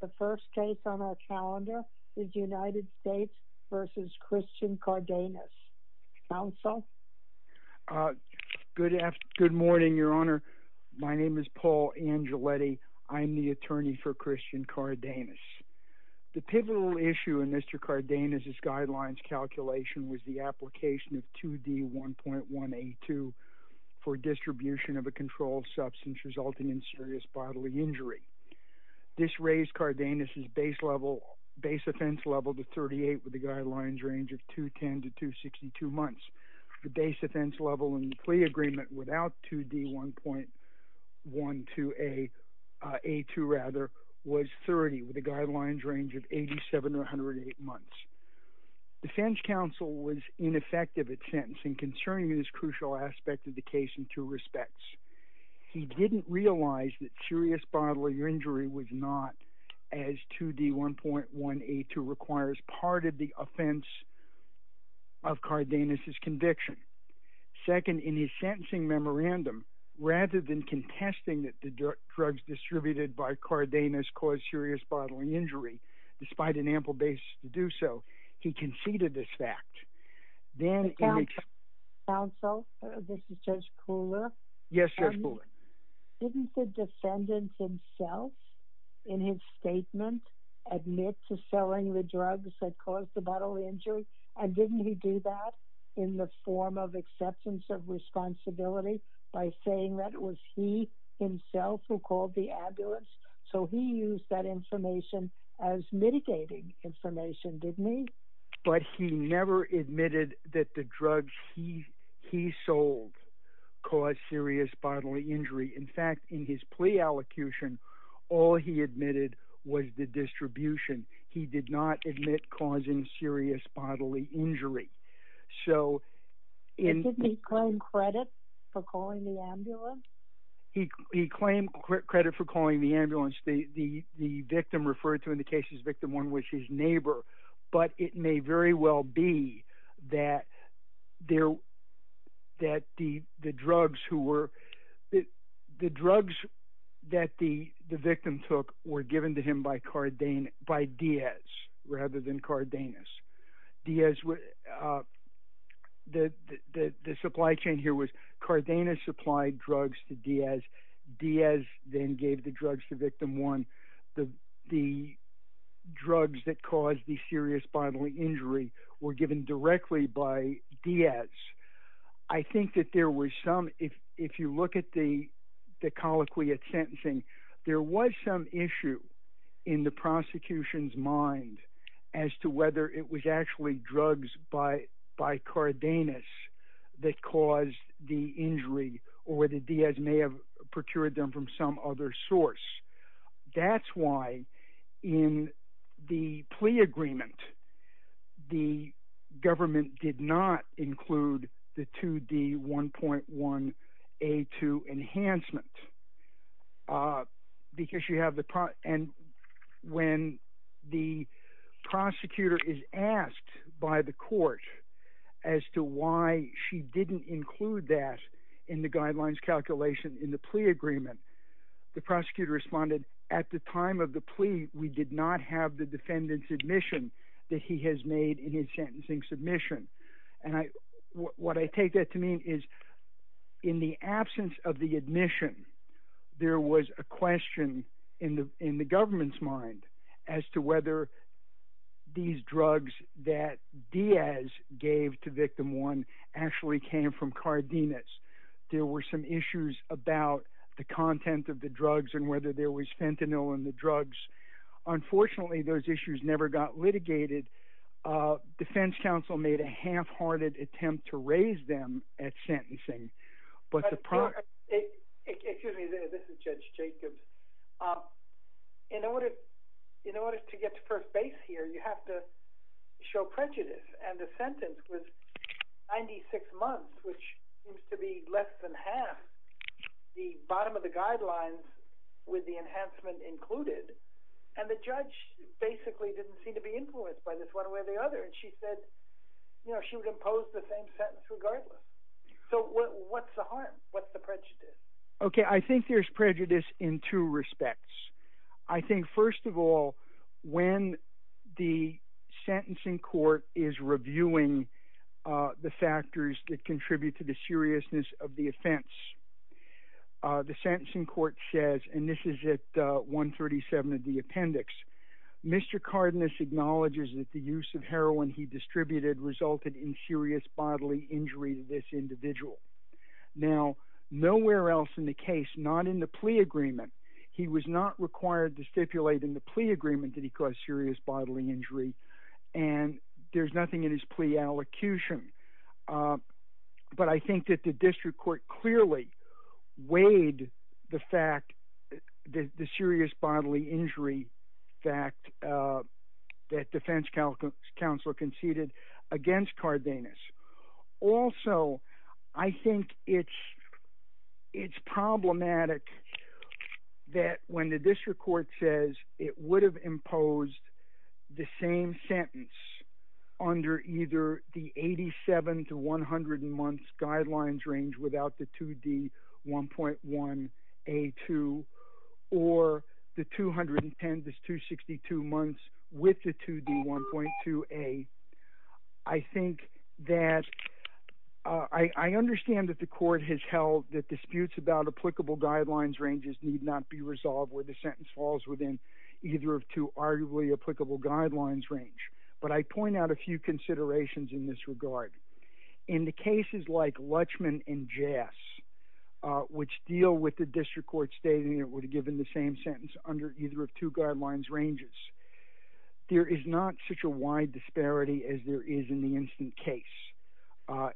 The first case on our calendar is United States v. Christian Cardenas. Counsel? Good morning, Your Honor. My name is Paul Angeletti. I'm the attorney for Christian Cardenas. The pivotal issue in Mr. Cardenas' guidelines calculation was the application of 2D1.1A2 for distribution of a controlled substance resulting in serious bodily injury. This raised Cardenas' base offense level to 38 with a guidelines range of 210 to 262 months. The base offense level in the plea agreement without 2D1.1A2 was 30 with a guidelines range of 87 to 108 months. Defense counsel was ineffective at sentencing concerning this crucial aspect of the case in two respects. He didn't realize that serious bodily injury was not, as 2D1.1A2 requires, part of the offense of Cardenas' conviction. Second, in his sentencing memorandum, rather than contesting that the drugs distributed by Cardenas caused serious bodily injury, despite an ample basis to do so, he conceded this fact. Counsel, this is Judge Kuhler. Yes, Judge Kuhler. Didn't the defendant himself, in his statement, admit to selling the drugs that caused the bodily injury? And didn't he do that in the form of acceptance of responsibility by saying that it was he himself who called the ambulance? So he used that information as mitigating information, didn't he? But he never admitted that the drugs he sold caused serious bodily injury. In fact, in his plea allocution, all he admitted was the distribution. He did not admit causing serious bodily injury. Did he claim credit for calling the ambulance? He claimed credit for calling the ambulance. The victim referred to in the case as victim one, which is neighbor. But it may very well be that the drugs that the victim took were given to him by Diaz rather than Cardenas. The supply chain here was Cardenas supplied drugs to Diaz. Diaz then gave the drugs to victim one. The drugs that caused the serious bodily injury were given directly by Diaz. I think that there was some, if you look at the colloquy at sentencing, there was some issue in the prosecution's mind as to whether it was actually drugs by Cardenas that caused the injury or whether Diaz may have procured them from some other source. That's why in the plea agreement, the government did not include the 2D1.1A2 enhancement. When the prosecutor is asked by the court as to why she didn't include that in the guidelines calculation in the plea agreement, the prosecutor responded, at the time of the plea, we did not have the defendant's admission that he has made in his sentencing submission. What I take that to mean is in the absence of the admission, there was a question in the government's mind as to whether these drugs that Diaz gave to victim one actually came from Cardenas. There were some issues about the content of the drugs and whether there was fentanyl in the drugs. Unfortunately, those issues never got litigated. Defense counsel made a half-hearted attempt to raise them at sentencing. Excuse me, this is Judge Jacobs. In order to get to first base here, you have to show prejudice. The sentence was 96 months, which seems to be less than half the bottom of the guidelines with the enhancement included. The judge basically didn't seem to be influenced by this one way or the other. She said she would impose the same sentence regardless. What's the harm? What's the prejudice? I think there's prejudice in two respects. First of all, when the sentencing court is reviewing the factors that contribute to the seriousness of the offense, the sentencing court says, and this is at 137 of the appendix, Mr. Cardenas acknowledges that the use of heroin he distributed resulted in serious bodily injury to this individual. Now, nowhere else in the case, not in the plea agreement, he was not required to stipulate in the plea agreement that he caused serious bodily injury, and there's nothing in his plea allocution. But I think that the district court clearly weighed the fact, the serious bodily injury fact that defense counsel conceded against Cardenas. Also, I think it's problematic that when the district court says it would have imposed the same sentence under either the 87 to 100-month guidelines range without the 2D1.1A2 or the 210 to 262 months with the 2D1.2A, I think that, I understand that the court has held that disputes about applicable guidelines ranges need not be resolved where the sentence falls within either of two arguably applicable guidelines range. But I point out a few considerations in this regard. In the cases like Lutchman and Jass, which deal with the district court stating it would have given the same sentence under either of two guidelines ranges, there is not such a wide disparity as there is in the instant case.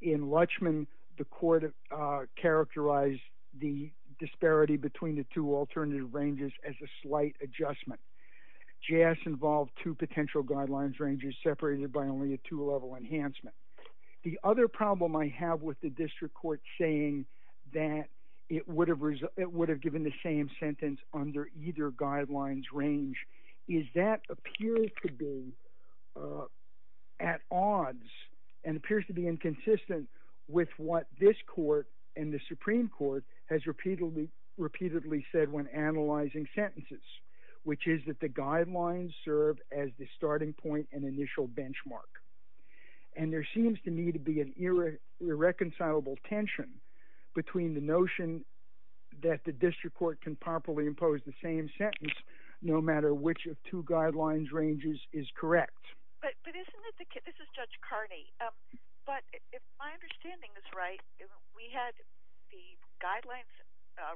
In Lutchman, the court characterized the disparity between the two alternative ranges as a slight adjustment. Jass involved two potential guidelines ranges separated by only a two-level enhancement. The other problem I have with the district court saying that it would have given the same sentence under either guidelines range is that appears to be at odds and appears to be inconsistent with what this court and the Supreme Court has repeatedly said when analyzing sentences, which is that the guidelines serve as the starting point and initial benchmark. And there seems to me to be an irreconcilable tension between the notion that the district court can properly impose the same sentence no matter which of two guidelines ranges is correct. But isn't it, this is Judge Carney, but if my understanding is right, we had the guidelines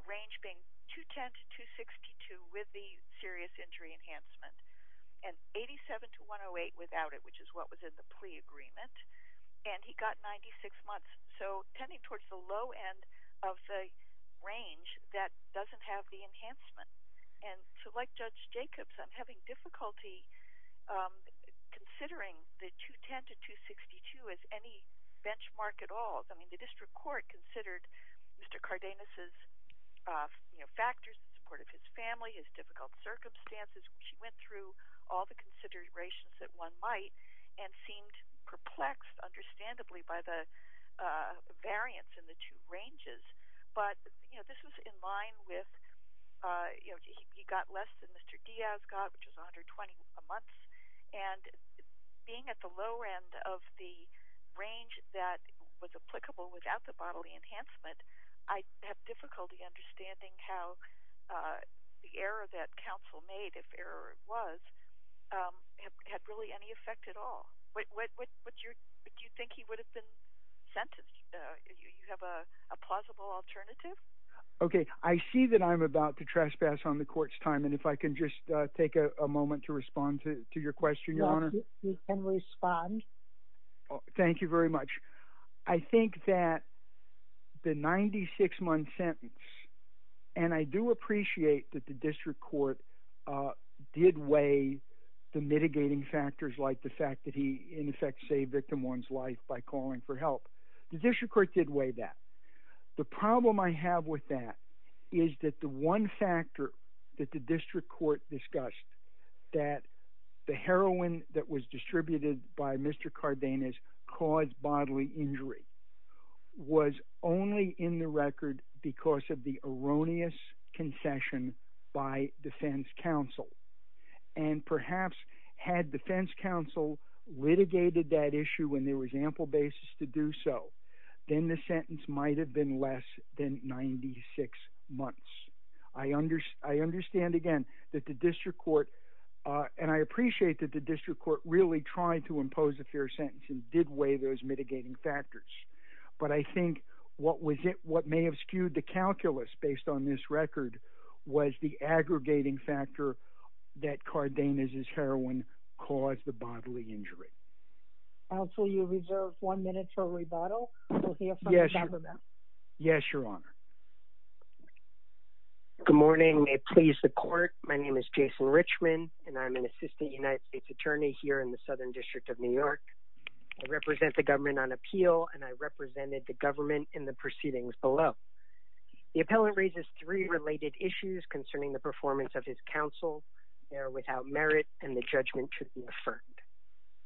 range being 210 to 262 with the serious injury enhancement and 87 to 108 without it, which is what was in the plea agreement, and he got 96 months. So tending towards the low end of the range that doesn't have the enhancement. And so like Judge Jacobs, I'm having difficulty considering the 210 to 262 as any benchmark at all. I mean, the district court considered Mr. Cardenas' factors, the support of his family, his difficult circumstances. She went through all the considerations that one might and seemed perplexed, understandably, by the variance in the two ranges. But, you know, this was in line with, you know, he got less than Mr. Diaz got, which is 120 a month. And being at the low end of the range that was applicable without the bodily enhancement, I have difficulty understanding how the error that counsel made, if error was, had really any effect at all. Do you think he would have been sentenced? Do you have a plausible alternative? Okay, I see that I'm about to trespass on the court's time, and if I can just take a moment to respond to your question, Your Honor. You can respond. Thank you very much. I think that the 96-month sentence, and I do appreciate that the district court did weigh the mitigating factors, like the fact that he, in effect, saved victim one's life by calling for help. The district court did weigh that. The problem I have with that is that the one factor that the district court discussed, that the heroin that was distributed by Mr. Cardenas caused bodily injury, was only in the record because of the erroneous concession by defense counsel. And perhaps had defense counsel litigated that issue when there was ample basis to do so, then the sentence might have been less than 96 months. I understand, again, that the district court, and I appreciate that the district court really tried to impose a fair sentence and did weigh those mitigating factors. But I think what may have skewed the calculus based on this record was the aggregating factor that Cardenas' heroin caused the bodily injury. Counsel, you reserve one minute for rebuttal. We'll hear from the government. Yes, Your Honor. Good morning. May it please the court, my name is Jason Richman, and I'm an assistant United States attorney here in the Southern District of New York. I represent the government on appeal, and I represented the government in the proceedings below. The appellant raises three related issues concerning the performance of his counsel. They are without merit, and the judgment should be affirmed.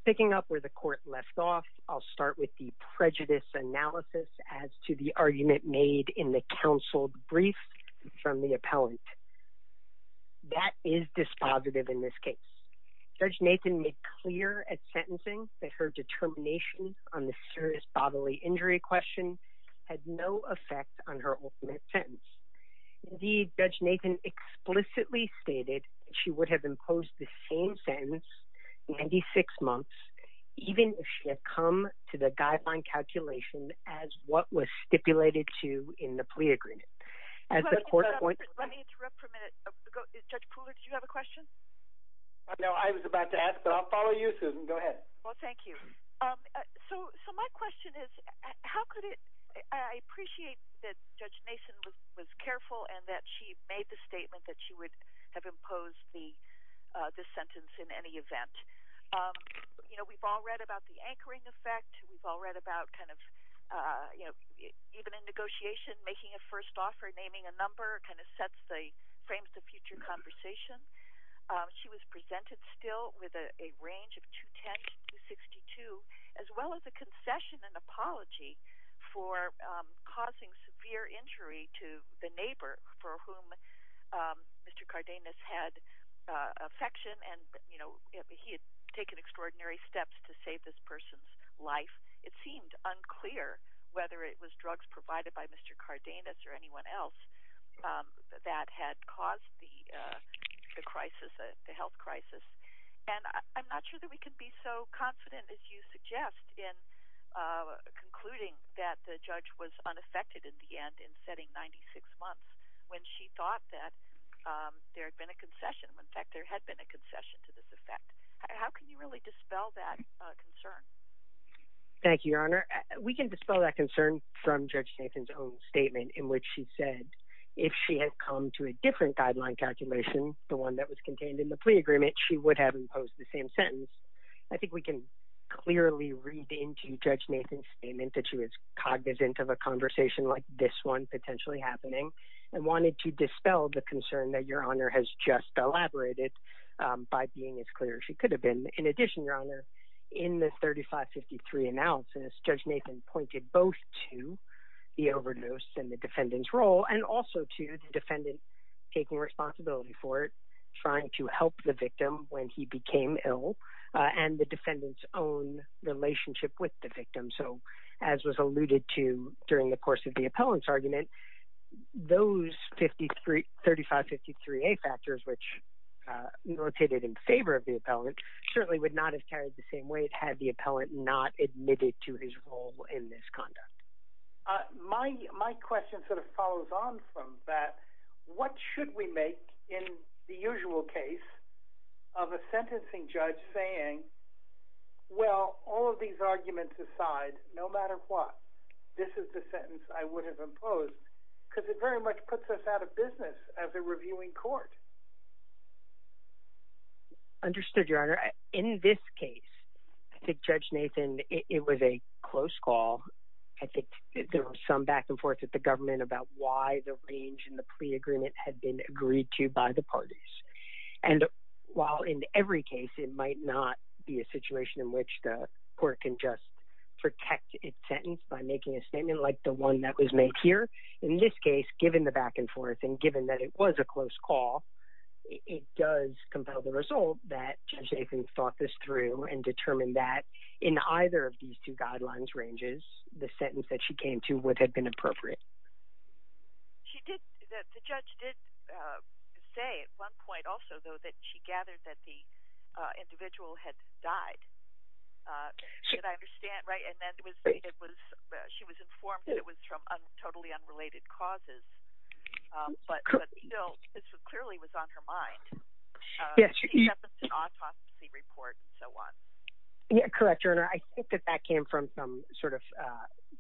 Picking up where the court left off, I'll start with the prejudice analysis as to the argument made in the counsel brief from the appellant. That is dispositive in this case. Judge Nathan made clear at sentencing that her determination on the serious bodily injury question had no effect on her ultimate sentence. Indeed, Judge Nathan explicitly stated she would have imposed the same sentence in 96 months even if she had come to the guideline calculation as what was stipulated to in the plea agreement. Let me interrupt for a minute. Judge Pooler, did you have a question? No, I was about to ask, but I'll follow you, Susan. Go ahead. Well, thank you. So my question is, how could it – I appreciate that Judge Nathan was careful and that she made the statement that she would have imposed the sentence in any event. You know, we've all read about the anchoring effect. We've all read about kind of, you know, even in negotiation, making a first offer, naming a number kind of sets the – frames the future conversation. She was presented still with a range of 210 to 262, as well as a concession and apology for causing severe injury to the neighbor for whom Mr. Cardenas had affection and, you know, he had taken extraordinary steps to save this person's life. It seemed unclear whether it was drugs provided by Mr. Cardenas or anyone else that had caused the crisis, the health crisis. And I'm not sure that we can be so confident, as you suggest, in concluding that the judge was unaffected in the end in setting 96 months when she thought that there had been a concession. In fact, there had been a concession to this effect. How can you really dispel that concern? Thank you, Your Honor. We can dispel that concern from Judge Nathan's own statement in which she said if she had come to a different guideline calculation, the one that was contained in the plea agreement, she would have imposed the same sentence. I think we can clearly read into Judge Nathan's statement that she was cognizant of a conversation like this one potentially happening and wanted to dispel the concern that Your Honor has just elaborated by being as clear as she could have been. In addition, Your Honor, in the 3553 analysis, Judge Nathan pointed both to the overdose and the defendant's role and also to the defendant taking responsibility for it, trying to help the victim when he became ill, and the defendant's own relationship with the victim. So as was alluded to during the course of the appellant's argument, those 3553A factors which rotated in favor of the appellant certainly would not have carried the same weight had the appellant not admitted to his role in this conduct. My question sort of follows on from that. What should we make in the usual case of a sentencing judge saying, well, all of these arguments aside, no matter what, this is the sentence I would have imposed? Because it very much puts us out of business as a reviewing court. Understood, Your Honor. In this case, I think Judge Nathan, it was a close call. I think there was some back and forth with the government about why the range in the plea agreement had been agreed to by the parties. And while in every case it might not be a situation in which the court can just protect its sentence by making a statement like the one that was made here, in this case, given the back and forth and given that it was a close call, it does compel the result that Judge Nathan thought this through and determined that in either of these two guidelines ranges, the sentence that she came to would have been appropriate. She did, the judge did say at one point also, though, that she gathered that the individual had died. Did I understand right? And then it was, she was informed that it was from totally unrelated causes. But still, this clearly was on her mind. She sentenced an autopsy report and so on. Yeah, correct, Your Honor. I think that that came from some sort of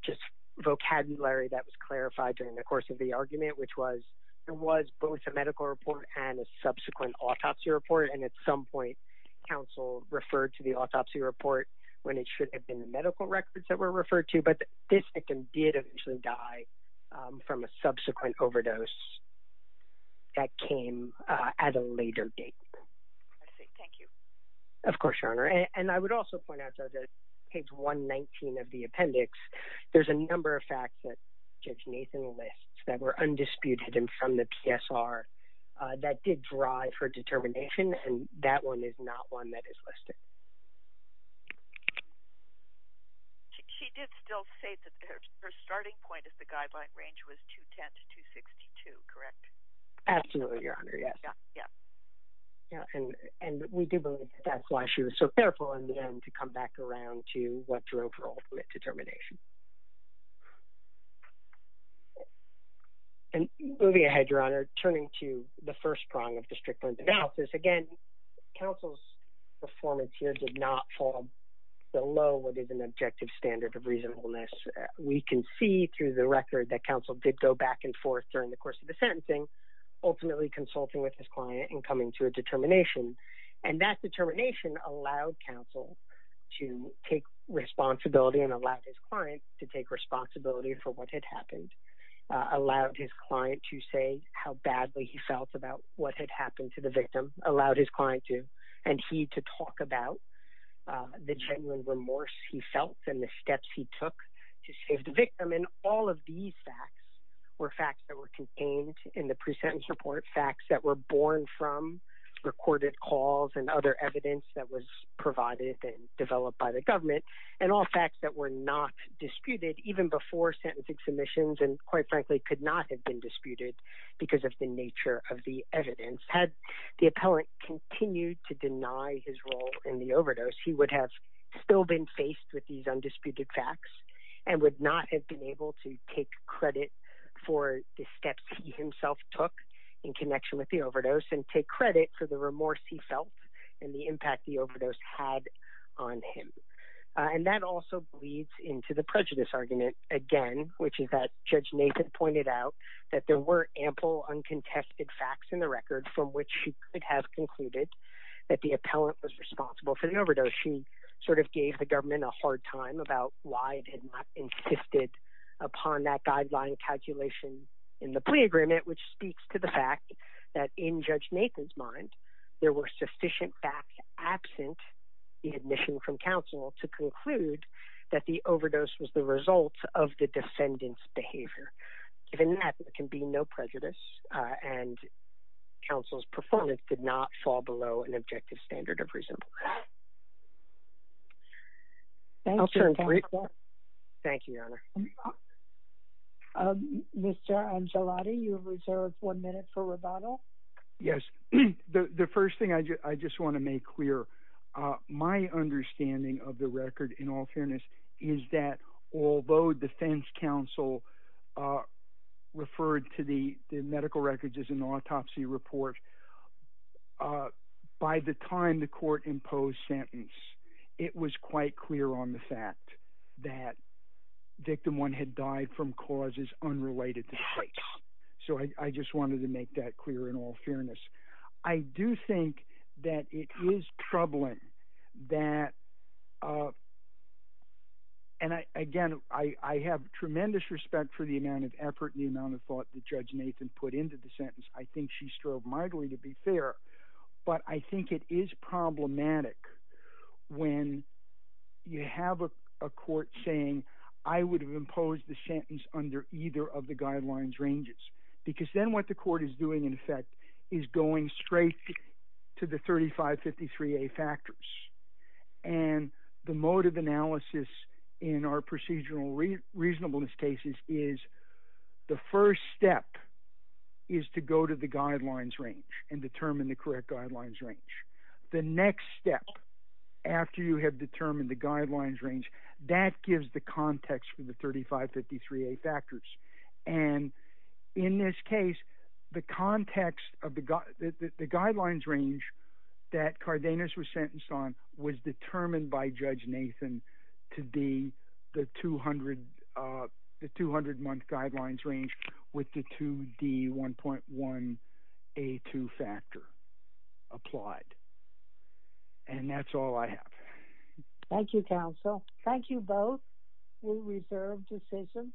just vocabulary that was clarified during the course of the argument, which was there was both a medical report and a subsequent autopsy report, and at some point counsel referred to the autopsy report when it should have been the medical records that were referred to. But this victim did eventually die from a subsequent overdose that came at a later date. I see. Thank you. Of course, Your Honor. And I would also point out, Judge, on page 119 of the appendix, there's a number of facts that Judge Nathan lists that were undisputed and from the PSR that did drive her determination, and that one is not one that is listed. She did still say that her starting point at the guideline range was 210 to 262, correct? Absolutely, Your Honor. Yes. Yeah. And we do believe that's why she was so careful in the end to come back around to what drove her ultimate determination. And moving ahead, Your Honor, turning to the first prong of the Strickland analysis. Again, counsel's performance here did not fall below what is an objective standard of reasonableness. We can see through the record that counsel did go back and forth during the course of the sentencing, ultimately consulting with his client and coming to a determination. And that determination allowed counsel to take responsibility and allowed his client to take responsibility for what had happened, allowed his client to say how badly he felt about what had happened to the victim, allowed his client to, and he to talk about the genuine remorse he felt and the steps he took to save the victim. And all of these facts were facts that were contained in the pre-sentence report, facts that were born from recorded calls and other evidence that was provided and developed by the government, and all facts that were not disputed even before sentencing submissions and, quite frankly, could not have been disputed because of the nature of the evidence. Had the appellant continued to deny his role in the overdose, he would have still been faced with these undisputed facts and would not have been able to take credit for the steps he himself took in connection with the overdose and take credit for the remorse he felt and the impact the overdose had on him. And that also bleeds into the prejudice argument again, which is that Judge Nathan pointed out that there were ample uncontested facts in the record from which she could have concluded that the appellant was responsible for the overdose. She sort of gave the government a hard time about why it had not insisted upon that guideline calculation in the plea agreement, which speaks to the fact that in Judge Nathan's mind, there were sufficient facts absent the admission from counsel to conclude that the overdose was the result of the defendant's behavior. Given that, there can be no prejudice and counsel's performance did not fall below an objective standard of reasonableness. Thank you, Your Honor. Mr. Angelotti, you have reserved one minute for rebuttal. Yes. The first thing I just want to make clear, my understanding of the record in all fairness is that although defense counsel referred to the medical records as an autopsy report, by the time the court imposed sentence, it was quite clear on the fact that victim one had died from causes unrelated to the case. I do think that it is troubling that, and again, I have tremendous respect for the amount of effort and the amount of thought that Judge Nathan put into the sentence. I think she strove mightily to be fair, but I think it is problematic when you have a court saying, I would have imposed the sentence under either of the guidelines ranges, because then what the court is doing, in effect, is going straight to the 3553A factors. And the mode of analysis in our procedural reasonableness cases is the first step is to go to the guidelines range and determine the correct guidelines range. The next step, after you have determined the guidelines range, that gives the context for the 3553A factors. And in this case, the context of the guidelines range that Cardenas was sentenced on was determined by Judge Nathan to be the 200-month guidelines range with the 2D1.1A2 factor applied. And that's all I have. Thank you, counsel. Thank you both. We reserve the session.